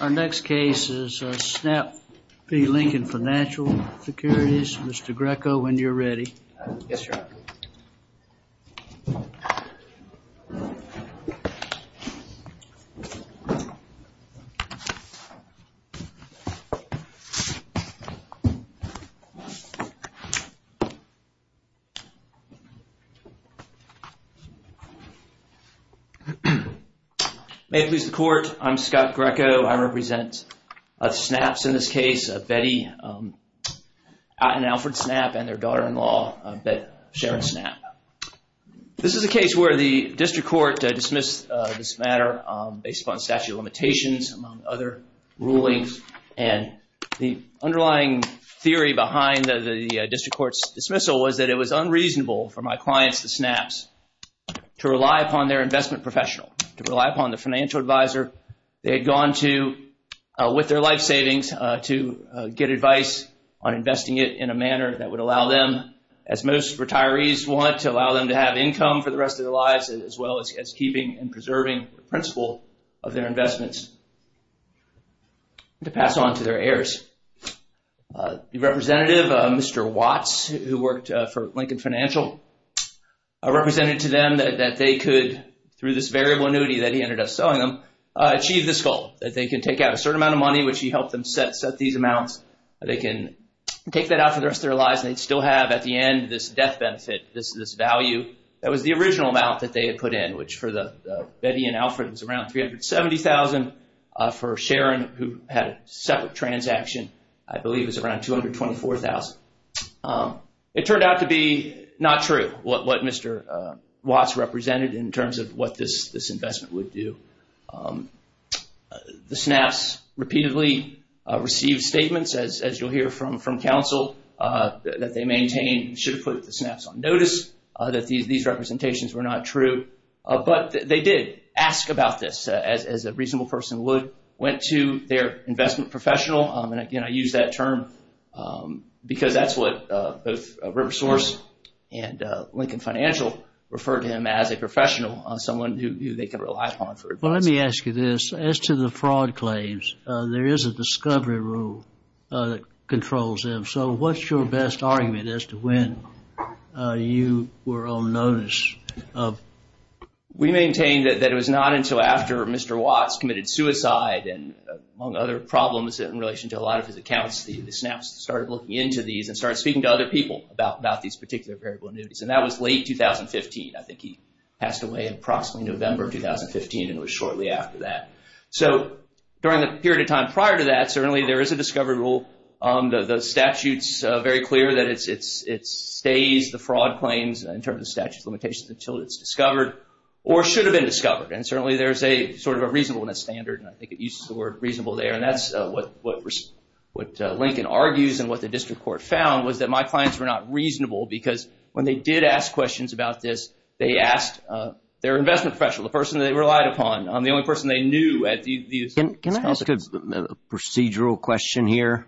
Our next case is Snapp v. Lincoln Financial Securities. Mr. Greco, when you're ready. Yes, Your Honor. May it please the Court. I'm Scott Greco. I represent Snapps in this case, Betty and Alfred Snapp and their daughter-in-law, Sharon Snapp. This is a case where the district court dismissed this matter based upon statute of limitations, among other rulings. And the underlying theory behind the district court's dismissal was that it was unreasonable for my clients, the Snapps, to rely upon their investment professional, to rely upon the financial advisor they had gone to with their life savings to get advice on investing it in a manner that would allow them, as most retirees want, to allow them to have income for the rest of their lives, as well as keeping and preserving the principle of their investments, to pass on to their heirs. The representative, Mr. Watts, who worked for Lincoln Financial, represented to them that they could, through this variable annuity that he ended up selling them, achieve this goal. That they can take out a certain amount of money, which he helped them set these amounts, that they can take that out for the rest of their lives and they'd still have, at the end, this death benefit, this value, that was the original amount that they had put in, which for Betty and Alfred was around $370,000. For Sharon, who had a separate transaction, I believe it was around $224,000. It turned out to be not true what Mr. Watts represented in terms of what this investment would do. The Snapps repeatedly received statements, as you'll hear from counsel, that they maintain should have put the Snapps on notice, that these representations were not true. But they did ask about this, as a reasonable person would, went to their investment professional, and again, I use that term because that's what both River Source and Lincoln Financial referred to him as a professional, someone who they can rely upon for advice. Well, let me ask you this, as to the fraud claims, there is a discovery rule that controls them. So what's your best argument as to when you were on notice? We maintain that it was not until after Mr. Watts committed suicide and among other problems in relation to a lot of his accounts, the Snapps started looking into these and started speaking to other people about these particular variable annuities. And that was late 2015. I think he passed away in approximately November 2015, and it was shortly after that. So during the period of time prior to that, certainly there is a discovery rule. The statute's very clear that it stays, the fraud claims, in terms of statute of limitations, until it's discovered or should have been discovered. And certainly there's a sort of a reasonableness standard, and I think it uses the word reasonable there. And that's what Lincoln argues and what the district court found was that my clients were not reasonable because when they did ask questions about this, they asked their investment professional, the person they relied upon, the only person they knew at the establishment. Can I ask a procedural question here,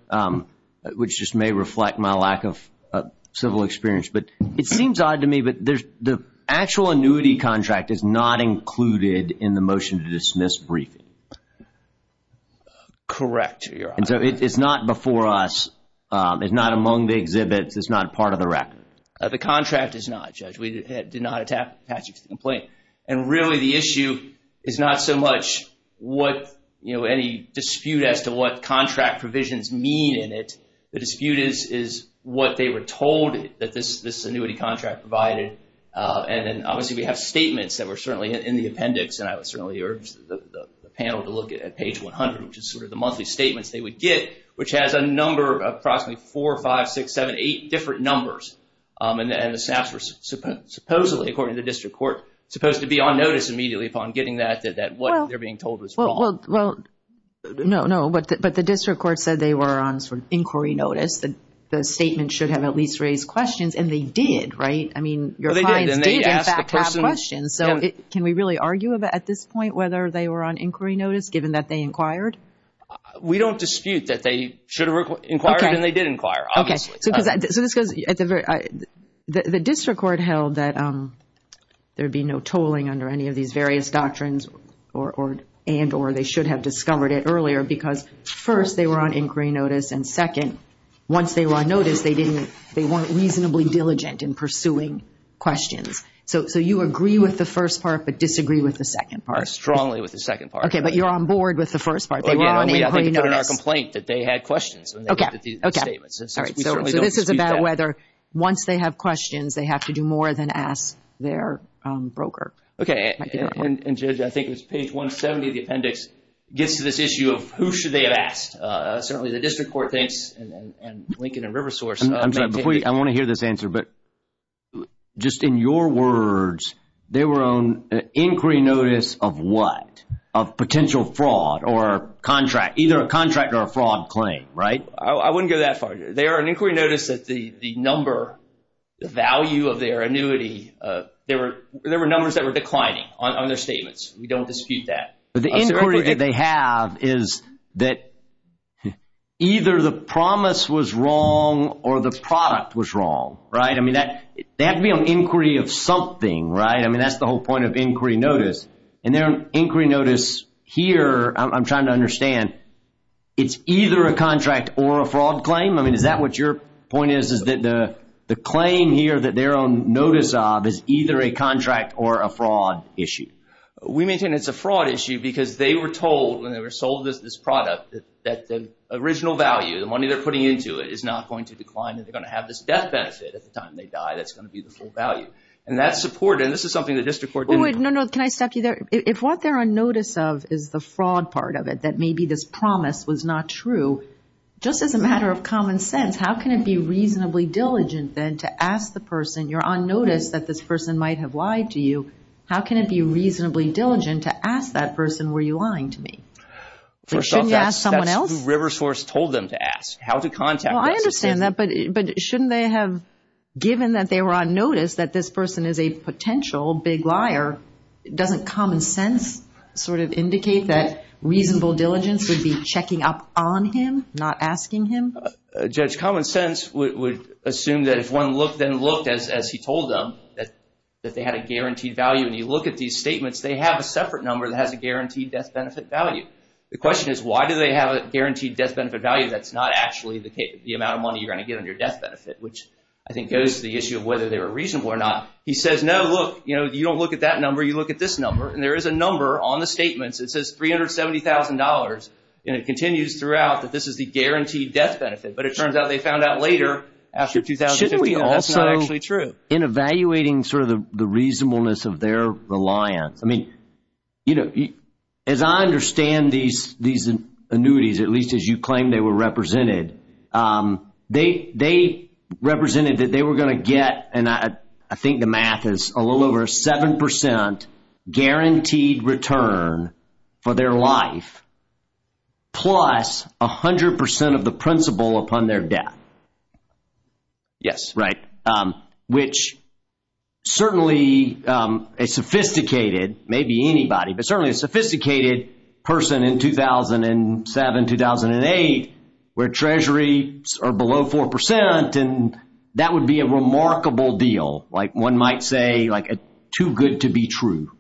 which just may reflect my lack of civil experience? But it seems odd to me, but the actual annuity contract is not included in the motion to dismiss briefing. Correct, Your Honor. And so it's not before us, it's not among the exhibits, it's not part of the record. The contract is not, Judge. We did not attack Patrick's complaint. And really the issue is not so much what, you know, any dispute as to what contract provisions mean in it. The dispute is what they were told that this annuity contract provided. And then obviously we have statements that were certainly in the appendix. And I would certainly urge the panel to look at page 100, which is sort of the monthly statements they would get, which has a number of approximately four, five, six, seven, eight different numbers. And the staffs were supposedly, according to the district court, supposed to be on notice immediately upon getting that, that what they're being told was wrong. Well, no, no. But the district court said they were on inquiry notice. The statement should have at least raised questions. And they did, right? I mean, your clients did in fact have questions. So can we really argue about at this point whether they were on inquiry notice, given that they inquired? We don't dispute that they should have inquired and they did inquire, obviously. So the district court held that there'd be no tolling under any of these various doctrines and or they should have discovered it earlier because first, they were on inquiry notice. And second, once they were on notice, they weren't reasonably diligent in pursuing questions. So, so you agree with the first part, but disagree with the second part. Strongly with the second part. OK, but you're on board with the first part. They were on inquiry notice. We didn't put it in our complaint that they had questions when they looked at these statements. All right, so this is about whether once they have questions, they have to do more than ask their broker. OK, and Judge, I think it's page 170 of the appendix gets to this issue of who should they have asked. Certainly the district court thinks, and Lincoln and Riversource. I want to hear this answer, but just in your words, they were on inquiry notice of what? Of potential fraud or contract, either a contract or a fraud claim, right? I wouldn't go that far. They are on inquiry notice that the number, the value of their annuity, there were there were numbers that were declining on their statements. We don't dispute that. But the inquiry that they have is that either the promise was wrong or the product was wrong, right? I mean, that they have to be on inquiry of something, right? I mean, that's the whole point of inquiry notice. And their inquiry notice here, I'm trying to understand, it's either a contract or a fraud claim. I mean, is that what your point is, is that the claim here that they're on notice of is either a contract or a fraud issue? We maintain it's a fraud issue because they were told when they were sold this product that the original value, the money they're putting into it, is not going to decline. And they're going to have this death benefit at the time they die. That's going to be the full value. And that's supported. And this is something the district court didn't. No, no. Can I stop you there? If what they're on notice of is the fraud part of it, that maybe this promise was not true, just as a matter of common sense, how can it be reasonably diligent then to ask the person, you're on notice that this person might have lied to you. How can it be reasonably diligent to ask that person, were you lying to me? Shouldn't you ask someone else? That's who River Source told them to ask, how to contact them. Well, I understand that, but shouldn't they have, given that they were on notice that this person is a potential big liar, doesn't common sense sort of indicate that reasonable diligence would be checking up on him, not asking him? Judge, common sense would assume that if one looked and looked, as he told them, that they had a guaranteed value, and you look at these statements, they have a separate number that has a guaranteed death benefit value. The question is, why do they have a guaranteed death benefit value that's not actually the amount of money you're going to get on your death benefit, which I think goes to the issue of whether they were reasonable or not. He says, no, look, you don't look at that number. You look at this number. And there is a number on the statements. It says $370,000, and it continues throughout that this is the guaranteed death benefit. But it turns out they found out later, after 2015, that that's not actually true. Shouldn't we also, in evaluating sort of the reasonableness of their reliance, I mean, you know, as I understand these annuities, at least as you claim they were represented, they represented that they were going to get, and I think the math is a little over 7% guaranteed return. For their life. Plus 100% of the principal upon their death. Yes, right, which certainly a sophisticated, maybe anybody, but certainly a sophisticated person in 2007, 2008, where treasuries are below 4%, and that would be a remarkable deal, like one might say, like a too good to be true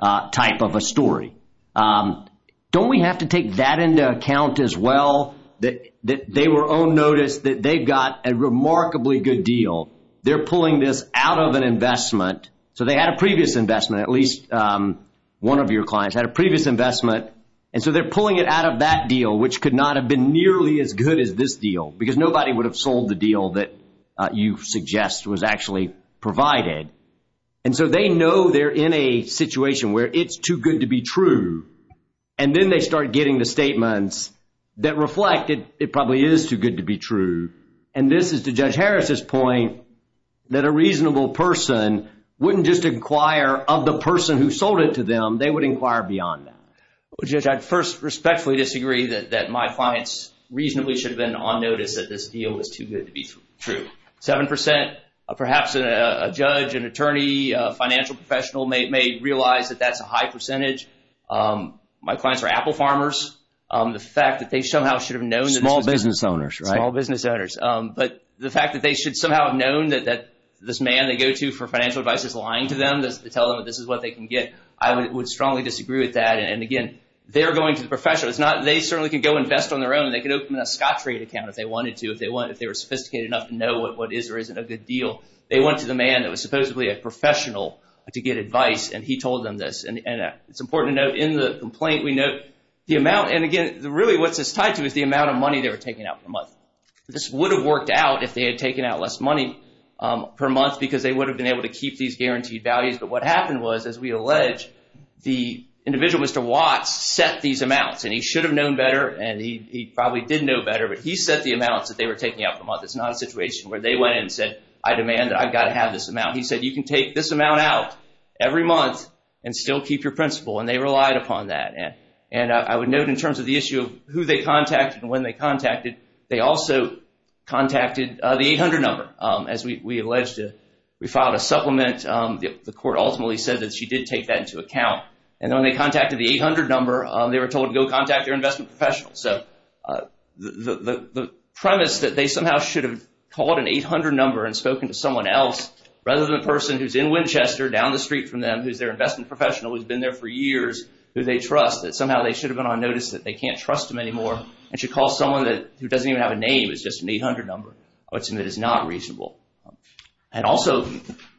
type of a story. Don't we have to take that into account as well, that they were on notice that they've got a remarkably good deal. They're pulling this out of an investment. So they had a previous investment, at least one of your clients had a previous investment, and so they're pulling it out of that deal, which could not have been nearly as good as this deal, because nobody would have sold the deal that you suggest was actually provided. And so they know they're in a situation where it's too good to be true. And then they start getting the statements that reflect it probably is too good to be true. And this is to Judge Harris's point, that a reasonable person wouldn't just inquire of the person who sold it to them, they would inquire beyond that. Judge, I'd first respectfully disagree that my clients reasonably should have been on notice that this deal was too good to be true. Seven percent, perhaps a judge, an attorney, a financial professional may realize that that's a high percentage. My clients are apple farmers. The fact that they somehow should have known that small business owners, small business owners. But the fact that they should somehow have known that this man they go to for financial advice is lying to them to tell them that this is what they can get. I would strongly disagree with that. And again, they're going to the professional. It's not they certainly can go invest on their own. They could open a Scottrade account if they wanted to, if they were sophisticated enough to know what is or isn't a good deal. They went to the man that was supposedly a professional to get advice. And he told them this. And it's important to note in the complaint, we note the amount. And again, really what's this tied to is the amount of money they were taking out per month. This would have worked out if they had taken out less money per month because they would have been able to keep these guaranteed values. But what happened was, as we allege, the individual, Mr. Watts, set these amounts and he should have known better. And he probably did know better. But he set the amounts that they were taking out per month. It's not a situation where they went and said, I demand that I've got to have this amount. He said, you can take this amount out every month and still keep your principle. And they relied upon that. And I would note in terms of the issue of who they contacted and when they contacted, they also contacted the 800 number. As we allege, we filed a supplement. The court ultimately said that she did take that into account. And when they contacted the 800 number, they were told to go contact their investment professional. So the premise that they somehow should have called an 800 number and spoken to someone else rather than a person who's in Winchester down the street from them, who's their investment professional, who's been there for years, who they trust, that somehow they should have been on notice that they can't trust them anymore. And should call someone that doesn't even have a name. It's just an 800 number. I would submit it's not reasonable. I'd also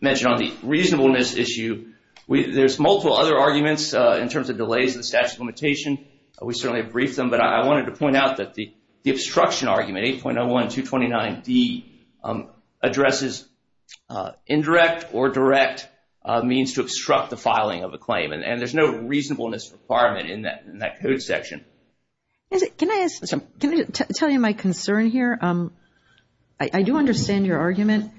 mention on the reasonableness issue, there's multiple other arguments in terms of delays in the statute of limitation. We certainly briefed them. But I wanted to point out that the obstruction argument 8.01229D addresses indirect or direct means to obstruct the filing of a claim. And there's no reasonableness requirement in that code section. Can I tell you my concern here? I do understand your argument.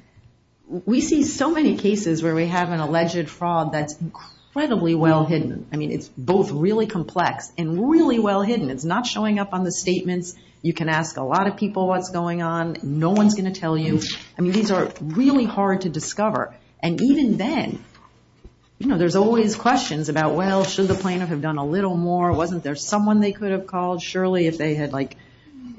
We see so many cases where we have an alleged fraud that's incredibly well hidden. I mean, it's both really complex and really well hidden. It's not showing up on the statements. You can ask a lot of people what's going on. No one's going to tell you. I mean, these are really hard to discover. And even then, you know, there's always questions about, well, should the plaintiff have done a little more? Wasn't there someone they could have called? Surely if they had, like,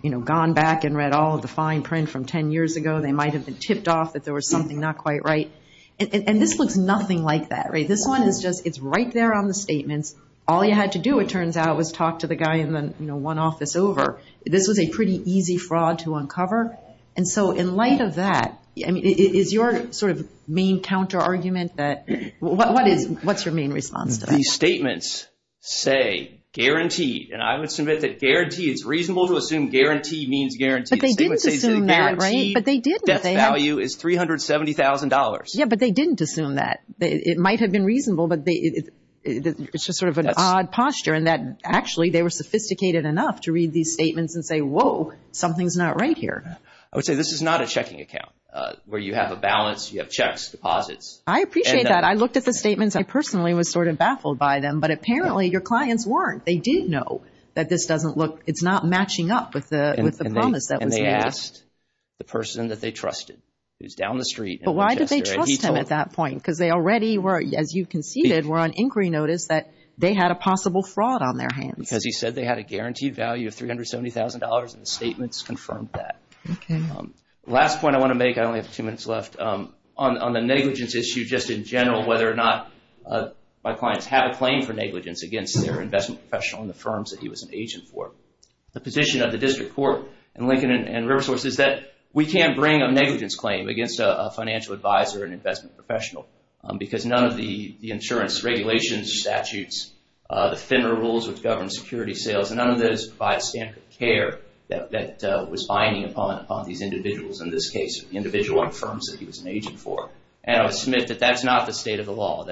you know, gone back and read all of the fine print from 10 years ago, they might have been tipped off that there was something not quite right. And this looks nothing like that, right? This one is just it's right there on the statements. All you had to do, it turns out, was talk to the guy in the one office over. This was a pretty easy fraud to uncover. And so in light of that, is your sort of main counter argument that what is what's your main response to that? These statements say guaranteed. And I would submit that guarantee is reasonable to assume. Guaranteed means guaranteed. But they didn't assume that, right? But they didn't. Death value is $370,000. Yeah, but they didn't assume that it might have been reasonable. But it's just sort of an odd posture in that, actually, they were sophisticated enough to read these statements and say, whoa, something's not right here. I would say this is not a checking account where you have a balance. You have checks, deposits. I appreciate that. I looked at the statements. I personally was sort of baffled by them. But apparently your clients weren't. They did know that this doesn't look, it's not matching up with the promise that was made. And they asked the person that they trusted, who's down the street. But why did they trust him at that point? Because they already were, as you conceded, were on inquiry notice that they had a possible fraud on their hands. Because he said they had a guaranteed value of $370,000 and the statements confirmed that. Last point I want to make, I only have two minutes left. On the negligence issue, just in general, whether or not my clients have a claim for negligence against their investment professional and the firms that he was an agent for. The position of the District Court in Lincoln and Riversource is that we can't bring a negligence claim against a financial advisor and investment professional. Because none of the insurance regulations, statutes, the FINRA rules which govern security sales, none of those provide standard care that was binding upon these individuals. In this case, individual firms that he was an agent for. And I would submit that that's not the state of the law.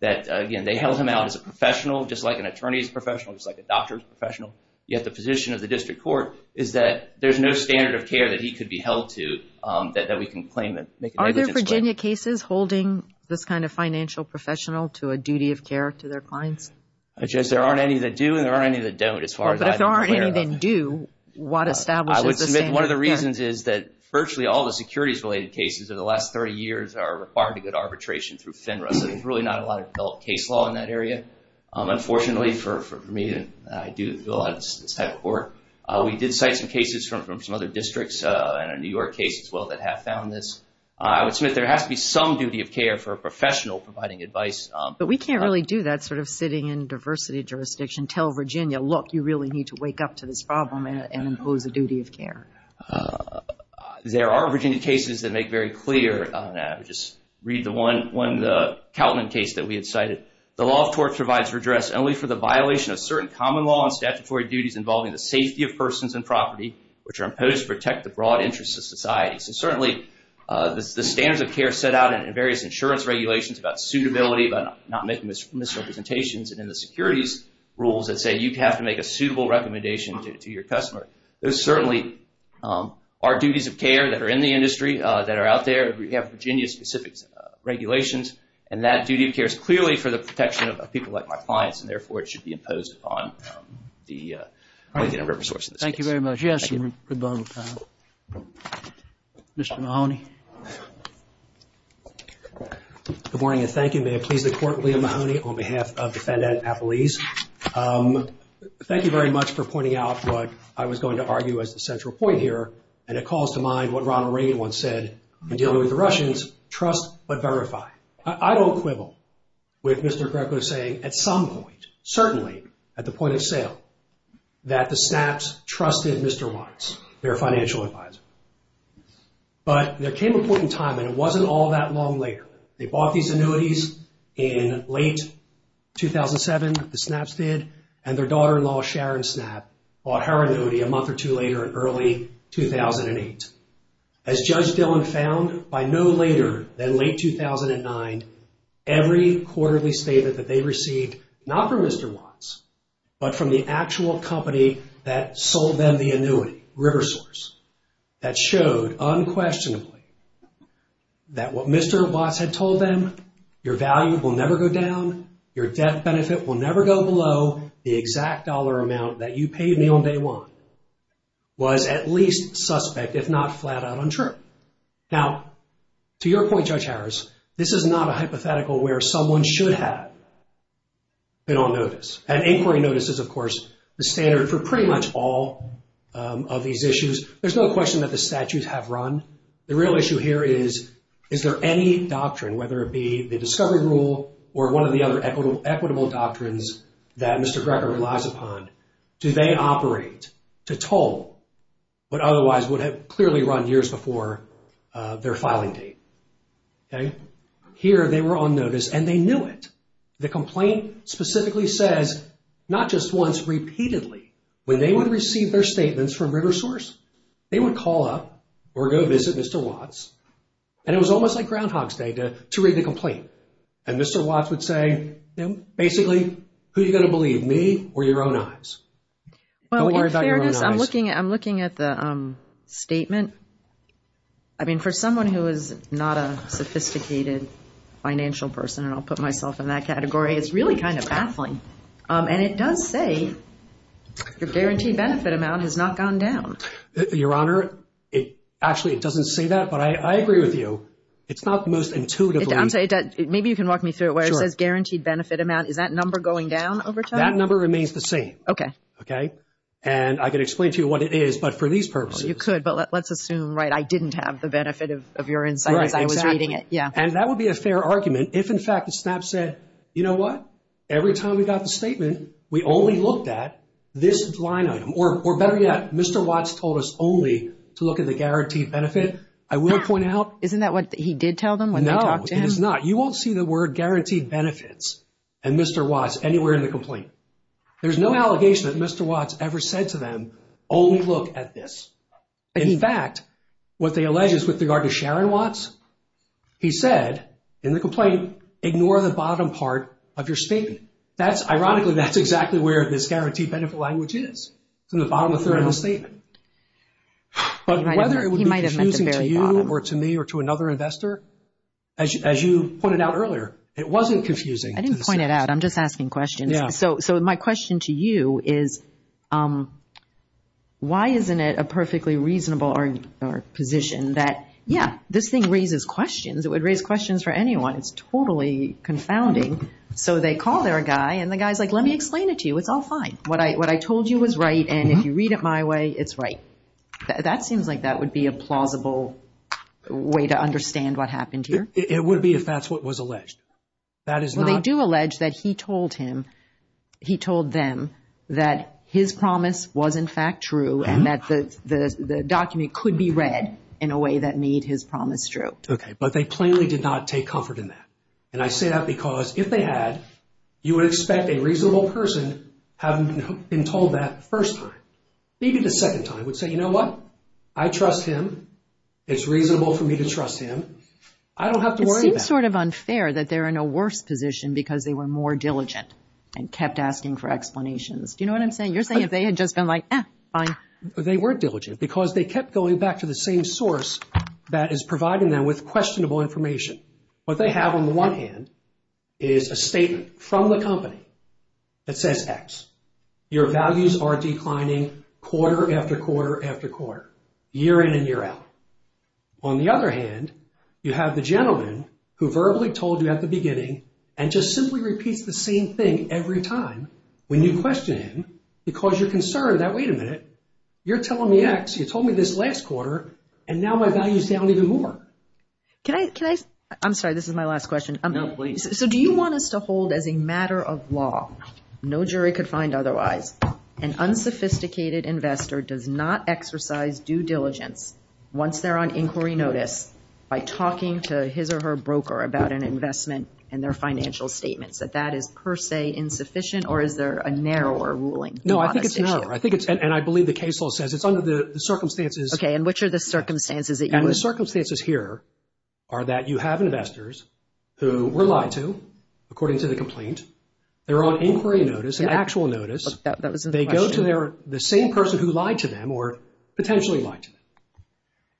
That, again, they held him out as a professional, just like an attorney's professional, just like a doctor's professional. Yet the position of the District Court is that there's no standard of care that he could be held to that we can claim that negligence claim. Are there Virginia cases holding this kind of financial professional to a duty of care to their clients? I just, there aren't any that do and there aren't any that don't as far as I'm aware of. I would submit one of the reasons is that virtually all the securities-related cases in the last 30 years are required to get arbitration through FINRA. So there's really not a lot of case law in that area. Unfortunately for me, I do feel this type of work. We did cite some cases from some other districts and a New York case as well that have found this. I would submit there has to be some duty of care for a professional providing advice. But we can't really do that sort of sitting in diversity jurisdiction. Tell Virginia, look, you really need to wake up to this problem and impose a duty of care. There are Virginia cases that make very clear, just read the one, the Kautland case that we had cited. The law of tort provides redress only for the violation of certain common law and statutory duties involving the safety of persons and property, which are imposed to protect the broad interests of society. So certainly the standards of care set out in various insurance regulations about suitability, about not making misrepresentations and in the securities rules that say you have to make a suitable recommendation to your customer. Those certainly are duties of care that are in the industry, that are out there. We have Virginia-specific regulations and that duty of care is clearly for the protection of people like my clients. And therefore, it should be imposed on the independent resource. Thank you very much. Yes, Mr. Mahoney. Good morning and thank you. May I please the court, Liam Mahoney, on behalf of the FedEx Appellees. Thank you very much for pointing out what I was going to argue as the central point here. And it calls to mind what Ronald Reagan once said in dealing with the Russians, trust but verify. I don't quibble with Mr. Greco saying at some point, certainly at the point of sale, that the snaps trusted Mr. Watts, their financial advisor. But there came a point in time, and it wasn't all that long later, they bought these annuities in late 2007, the snaps did, and their daughter-in-law, Sharon Snap, bought her annuity a month or two later in early 2008. As Judge Dillon found, by no later than late 2009, every quarterly statement that they received, not from Mr. Watts, but from the actual company that sold them the annuity, River Source. That showed unquestionably that what Mr. Watts had told them, your value will never go down, your debt benefit will never go below the exact dollar amount that you paid me on day one, was at least suspect, if not flat out untrue. Now, to your point, Judge Harris, this is not a hypothetical where someone should have been on notice. An inquiry notice is, of course, the standard for pretty much all of these issues. There's no question that the statutes have run. The real issue here is, is there any doctrine, whether it be the Discovery Rule or one of the other equitable doctrines that Mr. Greco relies upon, do they operate to toll what otherwise would have clearly run years before their filing date? Here, they were on notice, and they knew it. The complaint specifically says, not just once, repeatedly, when they would receive their statements from River Source, they would call up or go visit Mr. Watts. And it was almost like Groundhog's Day to read the complaint. And Mr. Watts would say, basically, who are you going to believe, me or your own eyes? Well, in fairness, I'm looking at the statement. I mean, for someone who is not a sophisticated financial person, and I'll put myself in that category, it's really kind of baffling. And it does say your guaranteed benefit amount has not gone down. Your Honor, it actually, it doesn't say that, but I agree with you. It's not the most intuitive. Maybe you can walk me through it where it says guaranteed benefit amount. Is that number going down over time? That number remains the same. Okay. Okay. And I can explain to you what it is, but for these purposes. You could, but let's assume, right, I didn't have the benefit of your insight as I was reading it. Yeah. And that would be a fair argument if, in fact, the SNAP said, you know what? Every time we got the statement, we only looked at this line item, or better yet, Mr. Watts told us only to look at the guaranteed benefit. I will point out- Isn't that what he did tell them when they talked to him? No, it is not. You won't see the word guaranteed benefits and Mr. Watts anywhere in the complaint. There's no allegation that Mr. Watts ever said to them, only look at this. In fact, what they allege is with regard to Sharon Watts, he said in the complaint, ignore the bottom part of your statement. That's ironically, that's exactly where this guaranteed benefit language is, from the bottom of the statement. But whether it would be confusing to you or to me or to another investor, as you pointed out earlier, it wasn't confusing. I didn't point it out. I'm just asking questions. So my question to you is, why isn't it a perfectly reasonable position that, yeah, this thing raises questions. It would raise questions for anyone. It's totally confounding. So they call their guy and the guy's like, let me explain it to you. It's all fine. What I told you was right. And if you read it my way, it's right. That seems like that would be a plausible way to understand what happened here. It would be if that's what was alleged. Well, they do allege that he told him, he told them that his promise was in fact true and that the document could be read in a way that made his promise true. Okay. But they plainly did not take comfort in that. And I say that because if they had, you would expect a reasonable person having been told that first time. Maybe the second time would say, you know what? I trust him. I don't have to worry about it. It seems sort of unfair that they're in a worse position because they were more diligent and kept asking for explanations. Do you know what I'm saying? You're saying if they had just been like, eh, fine. They were diligent because they kept going back to the same source that is providing them with questionable information. What they have on the one hand is a statement from the company that says, X, your values are declining quarter after quarter after quarter, year in and year out. On the other hand, you have the gentleman who verbally told you at the beginning and just simply repeats the same thing every time when you question him because you're concerned that, wait a minute, you're telling me X, you told me this last quarter and now my value is down even more. Can I, can I, I'm sorry, this is my last question. No, please. So do you want us to hold as a matter of law, no jury could find otherwise, an unsophisticated investor does not exercise due diligence once they're on inquiry notice by talking to his or her broker about an investment and their financial statements, that that is per se insufficient or is there a narrower ruling? No, I think it's narrower. I think it's, and I believe the case law says it's under the circumstances. Okay, and which are the circumstances that you would. The circumstances here are that you have investors who were lied to according to the complaint. They're on inquiry notice, an actual notice. They go to their, the same person who lied to them or potentially lied to them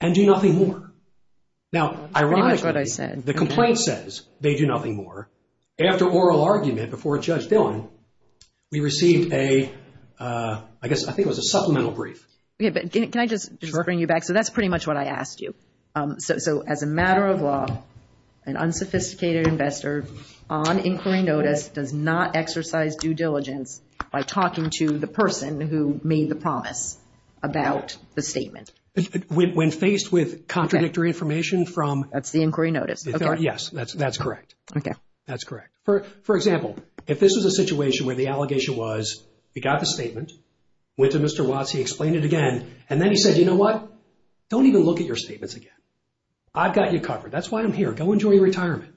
and do nothing more. Now, ironically, the complaint says they do nothing more. After oral argument before Judge Dillon, we received a, I guess, I think it was a supplemental brief. Yeah, but can I just bring you back? So that's pretty much what I asked you. So as a matter of law, an unsophisticated investor on inquiry notice does not exercise due diligence by talking to the person who made the promise about the statement. When faced with contradictory information from. That's the inquiry notice. Yes, that's correct. Okay. That's correct. For example, if this was a situation where the allegation was, you got the statement, went to Mr. Watts, he explained it again and then he said, you know what? Don't even look at your statements again. I've got you covered. That's why I'm here. Go enjoy your retirement.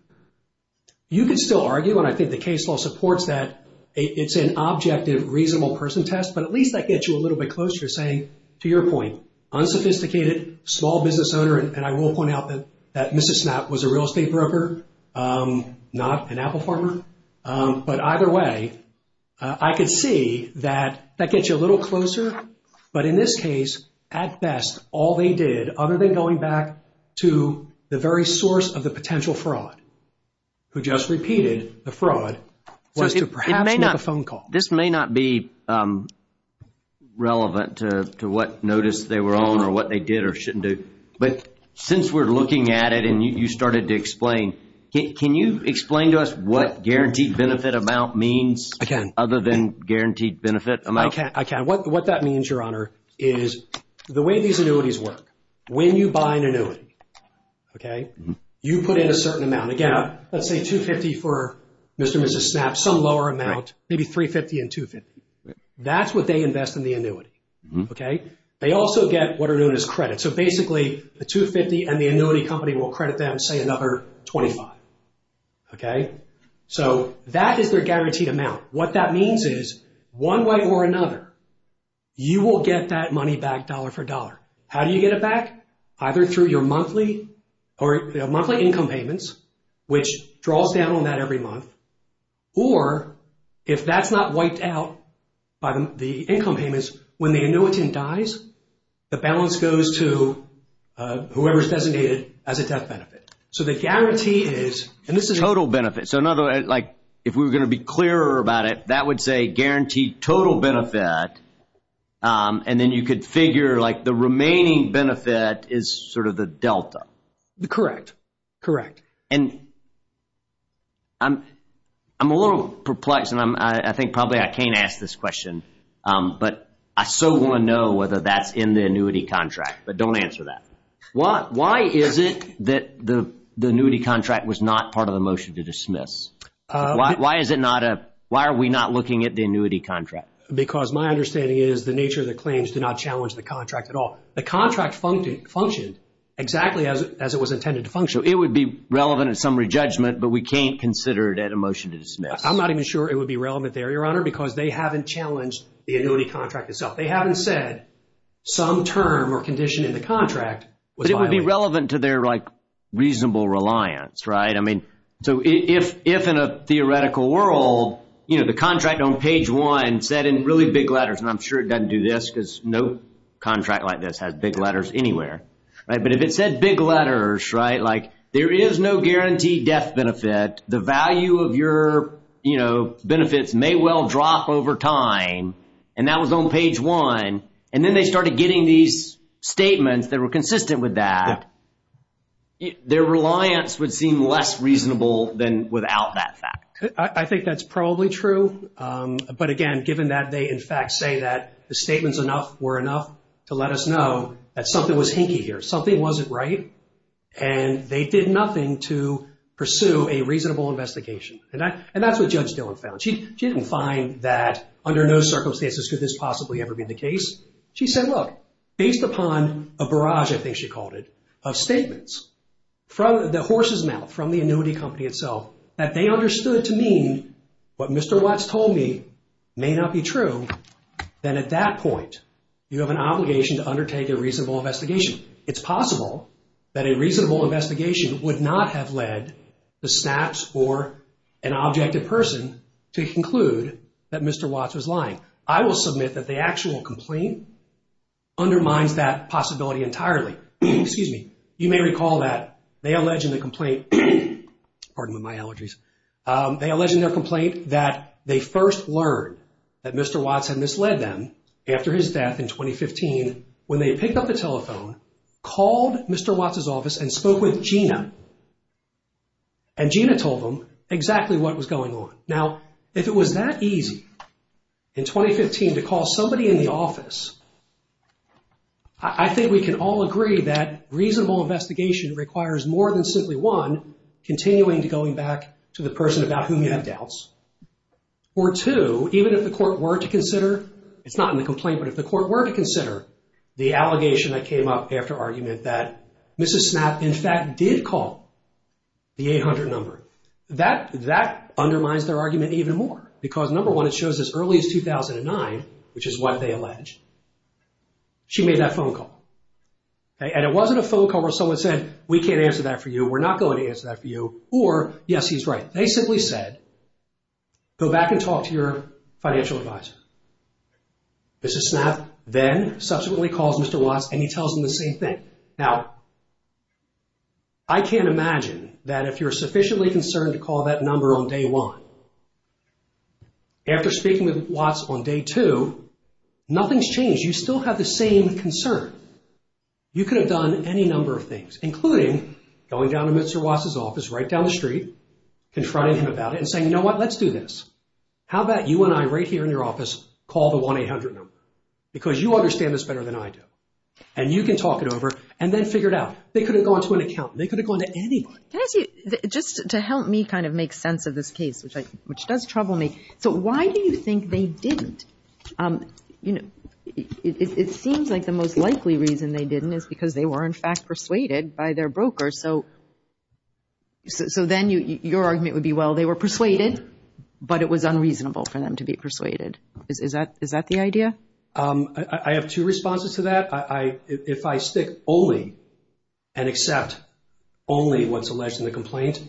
You could still argue, and I think the case law supports that it's an objective, reasonable person test, but at least that gets you a little bit closer to saying, to your point, unsophisticated, small business owner. And I will point out that Mrs. Snapp was a real estate broker, not an Apple partner. But either way, I could see that that gets you a little closer. But in this case, at best, all they did, other than going back to the very source of the potential fraud, who just repeated the fraud, was to perhaps make a phone call. This may not be relevant to what notice they were on or what they did or shouldn't do. But since we're looking at it and you started to explain, can you explain to us what guaranteed benefit amount means? I can. Other than guaranteed benefit amount? I can. What that means, Your Honor, is the way these annuities work, when you buy an annuity, okay, you put in a certain amount. Let's say $250,000 for Mr. and Mrs. Snapp, some lower amount, maybe $350,000 and $250,000. That's what they invest in the annuity, okay? They also get what are known as credit. So basically, the $250,000 and the annuity company will credit them, say, another $25,000, okay? So that is their guaranteed amount. What that means is, one way or another, you will get that money back dollar for dollar. How do you get it back? Either through your monthly income payments, which draws down on that every month, or if that's not wiped out by the income payments, when the annuitant dies, the balance goes to whoever's designated as a death benefit. So the guarantee is... And this is total benefit. So another way, like, if we were going to be clearer about it, that would say guaranteed total benefit. And then you could figure, like, the remaining benefit is sort of the delta. Correct, correct. And I'm a little perplexed, and I think probably I can't ask this question, but I so want to know whether that's in the annuity contract. But don't answer that. Why is it that the annuity contract was not part of the motion to dismiss? Why is it not a... Why are we not looking at the annuity contract? Because my understanding is the nature of the claims did not challenge the contract at all. The contract functioned exactly as it was intended to function. It would be relevant at summary judgment, but we can't consider it at a motion to dismiss. I'm not even sure it would be relevant there, Your Honor, because they haven't challenged the annuity contract itself. They haven't said some term or condition in the contract was violated. But it would be relevant to their, like, reasonable reliance, right? I mean, so if in a theoretical world, you know, the contract on page one said in really big letters, and I'm sure it doesn't do this because no contract like this has big letters anywhere, right? But if it said big letters, right? Like, there is no guaranteed death benefit. The value of your, you know, benefits may well drop over time. And that was on page one. And then they started getting these statements that were consistent with that. Their reliance would seem less reasonable than without that fact. I think that's probably true. But again, given that they in fact say that the statements enough were enough to let us know that something was hinky here, something wasn't right. And they did nothing to pursue a reasonable investigation. And that's what Judge Dillon found. She didn't find that under no circumstances could this possibly ever be the case. She said, look, based upon a barrage, I think she called it, of statements from the horse's mouth, from the annuity company itself, that they understood to mean what Mr. Watts told me may not be true. Then at that point, you have an obligation to undertake a reasonable investigation. It's possible that a reasonable investigation would not have led the stats or an objected person to conclude that Mr. Watts was lying. I will submit that the actual complaint undermines that possibility entirely. Excuse me. You may recall that they allege in the complaint, pardon my allergies, they allege in their complaint that they first learned that Mr. Watts had misled them after his death in 2015, when they picked up the telephone, called Mr. Watts's office and spoke with Gina. And Gina told them exactly what was going on. Now, if it was that easy in 2015 to call somebody in the office, I think we can all agree that reasonable investigation requires more than simply, one, continuing to going back to the person about whom you have doubts. Or two, even if the court were to consider, it's not in the complaint, but if the court were to consider the allegation that came up after argument that Mrs. Snapp in fact did call the 800 number, that undermines their argument even more. Because number one, it shows as early as 2009, which is what they allege, she made that phone call. And it wasn't a phone call where someone said, we can't answer that for you. We're not going to answer that for you. Or yes, he's right. They simply said, go back and talk to your financial advisor. Mrs. Snapp then subsequently calls Mr. Watts and he tells them the same thing. Now, I can't imagine that if you're sufficiently concerned to call that number on day one, after speaking with Watts on day two, nothing's changed. You still have the same concern. You could have done any number of things, including going down to Mr. Watts' office, right down the street, confronting him about it and saying, you know what, let's do this. How about you and I right here in your office call the 1-800 number? Because you understand this better than I do. And you can talk it over and then figure it out. They could have gone to an accountant. They could have gone to anyone. Can I ask you, just to help me kind of make sense of this case, which does trouble me. So why do you think they didn't? You know, it seems like the most likely reason they didn't is because they were in fact persuaded by their broker. So then your argument would be, well, they were persuaded, but it was unreasonable for them to be persuaded. Is that the idea? I have two responses to that. If I stick only and accept only what's alleged in the complaint,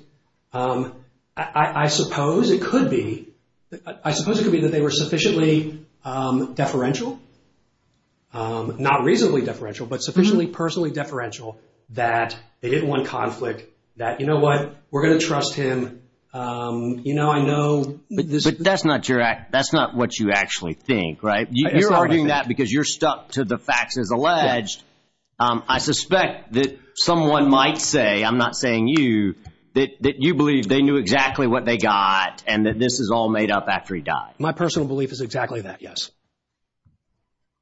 I suppose it could be that they were sufficiently deferential, not reasonably deferential, but sufficiently personally deferential that they didn't want conflict. That, you know what, we're going to trust him. You know, I know. But that's not what you actually think, right? You're arguing that because you're stuck to the facts as alleged. I suspect that someone might say, I'm not saying you, that you believe they knew exactly what they got and that this is all made up after he died. My personal belief is exactly that, yes.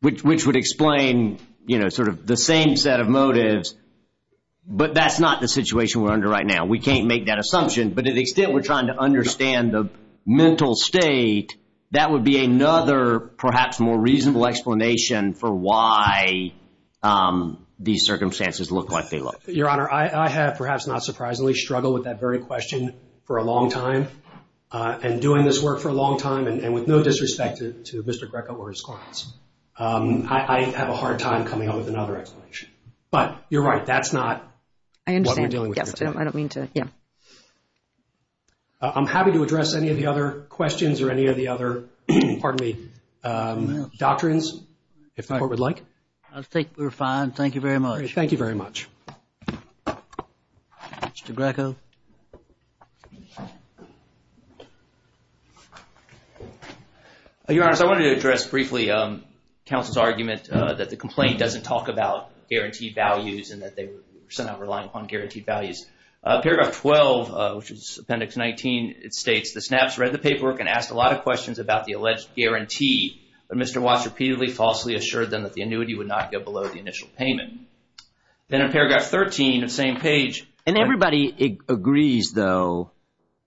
Which would explain, you know, sort of the same set of motives. But that's not the situation we're under right now. We can't make that assumption. But to the extent we're trying to understand the mental state, that would be another perhaps more reasonable explanation for why these circumstances look like they look. Your Honor, I have perhaps not surprisingly struggled with that very question for a long time and doing this work for a long time. And with no disrespect to Mr. Greco or his clients, I have a hard time coming up with another explanation. But you're right. That's not what we're dealing with. Yes, I don't mean to. Yeah. I'm happy to address any of the other questions or any of the other, pardon me, doctrines, if the Court would like. I think we're fine. Thank you very much. Thank you very much. Mr. Greco. Your Honor, I wanted to address briefly counsel's argument that the complaint doesn't talk about guaranteed values and that they were sent out relying upon guaranteed values. Paragraph 12, which is Appendix 19, it states, the snaps read the paperwork and asked a lot of questions about the alleged guarantee. But Mr. Watts repeatedly falsely assured them that the annuity would not go below the initial payment. Then in paragraph 13, the same page. And everybody agrees, though,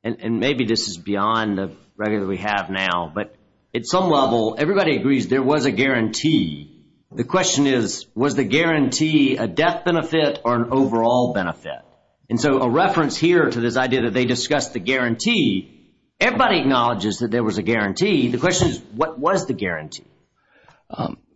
and maybe this is beyond the record that we have now, but at some level, everybody agrees there was a guarantee. The question is, was the guarantee a death benefit or an overall benefit? And so a reference here to this idea that they discussed the guarantee, everybody acknowledges that there was a guarantee. The question is, what was the guarantee?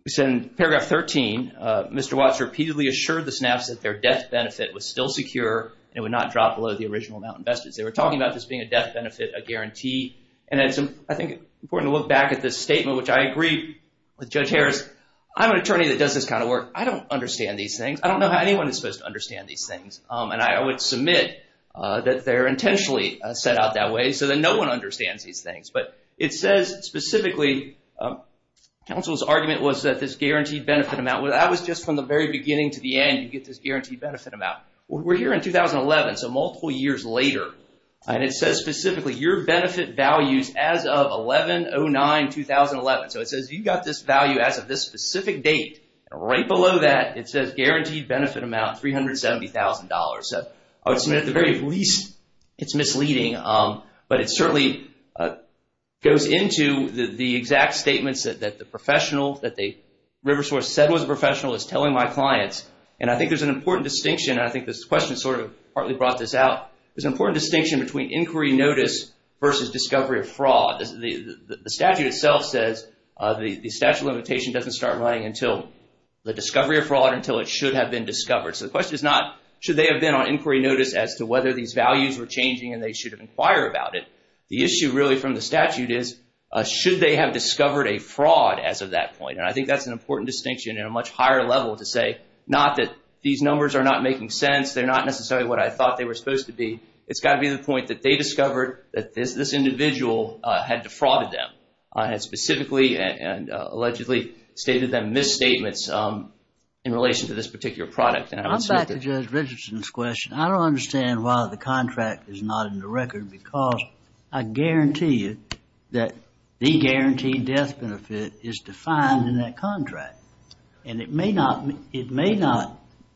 It's in paragraph 13. Mr. Watts repeatedly assured the snaps that their death benefit was still secure and it would not drop below the original amount invested. They were talking about this being a death benefit, a guarantee. And I think it's important to look back at this statement, which I agree with Judge Harris. I'm an attorney that does this kind of work. I don't understand these things. I don't know how anyone is supposed to understand these things. And I would submit that they're intentionally set out that way so that no one understands these things. But it says specifically, counsel's argument was that this guaranteed benefit amount, that was just from the very beginning to the end, you get this guaranteed benefit amount. We're here in 2011, so multiple years later. And it says specifically, your benefit values as of 11-09-2011. So it says you got this value as of this specific date. Right below that, it says guaranteed benefit amount, $370,000. So I would submit at the very least, it's misleading. But it certainly goes into the exact statements that the professional, that the river source said was a professional is telling my clients. And I think there's an important distinction. And I think this question sort of partly brought this out. There's an important distinction between inquiry notice versus discovery of fraud. The statute itself says the statute of limitation doesn't start running until the discovery of fraud, until it should have been discovered. So the question is not, should they have been on inquiry notice as to whether these values were changing and they should have inquired about it? The issue really from the statute is, should they have discovered a fraud as of that point? And I think that's an important distinction in a much higher level to say, not that these numbers are not making sense. They're not necessarily what I thought they were supposed to be. It's got to be the point that they discovered that this individual had defrauded them. And had specifically and allegedly stated them misstatements in relation to this particular product. And I would submit that- I'm back to Judge Richardson's question. I don't understand why the contract is not in the record because I guarantee you that the guaranteed death benefit is defined in that contract. And it may not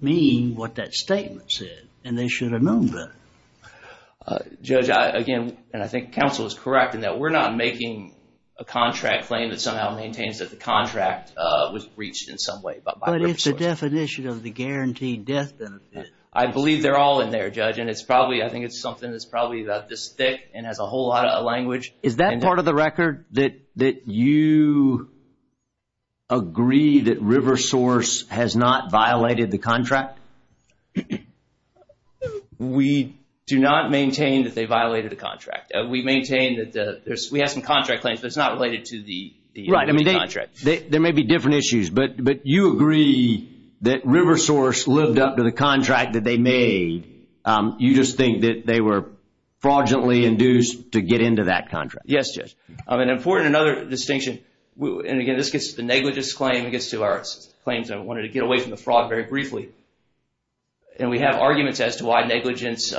mean what that statement said and they should have known better. Judge, again, and I think counsel is correct in that we're not making a contract claim that somehow maintains that the contract was breached in some way. But it's a definition of the guaranteed death benefit. I believe they're all in there, Judge. And it's probably, I think it's something that's probably about this thick and has a whole lot of language. Is that part of the record that you agree that River Source has not violated the contract? We do not maintain that they violated the contract. We maintain that we have some contract claims that's not related to the contract. There may be different issues, but you agree that River Source lived up to the contract that they made. You just think that they were fraudulently induced to get into that contract? Yes, Judge. An important another distinction, and again, this gets to the negligence claim. It gets to our claims. I wanted to get away from the fraud very briefly. And we have arguments as to why negligence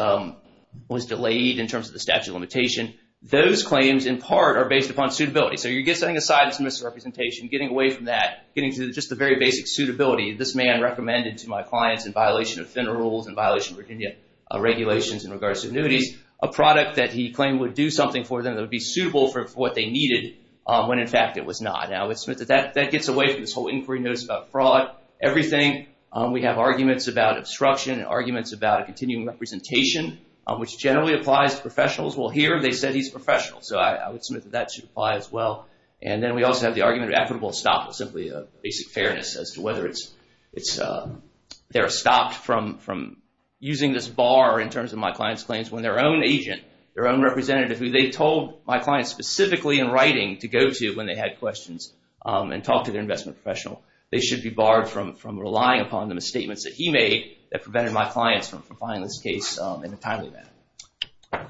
was delayed in terms of the statute of limitation. Those claims in part are based upon suitability. So you're getting something aside that's misrepresentation, getting away from that, getting to just the very basic suitability. This man recommended to my clients in violation of FIN rules and violation of Virginia regulations in regards to annuities, a product that he claimed would do something for them that would be suitable for what they needed when in fact it was not. Now, I would submit that that gets away from this whole inquiry notice about fraud. Everything, we have arguments about obstruction and arguments about continuing representation, which generally applies to professionals. Well, here they said he's professional. So I would submit that that should apply as well. And then we also have the argument of equitable stop with simply a basic fairness as to whether they're stopped from using this bar in terms of my client's claims when their own agent, their own representative, who they told my client specifically in writing to go to when they had questions and talk to their investment professional, they should be barred from relying upon the misstatements that he made that prevented my clients from filing this case in a timely manner.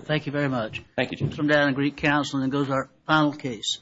Thank you very much. Thank you, Jim. We'll come down and greet counsel and then go to our final case.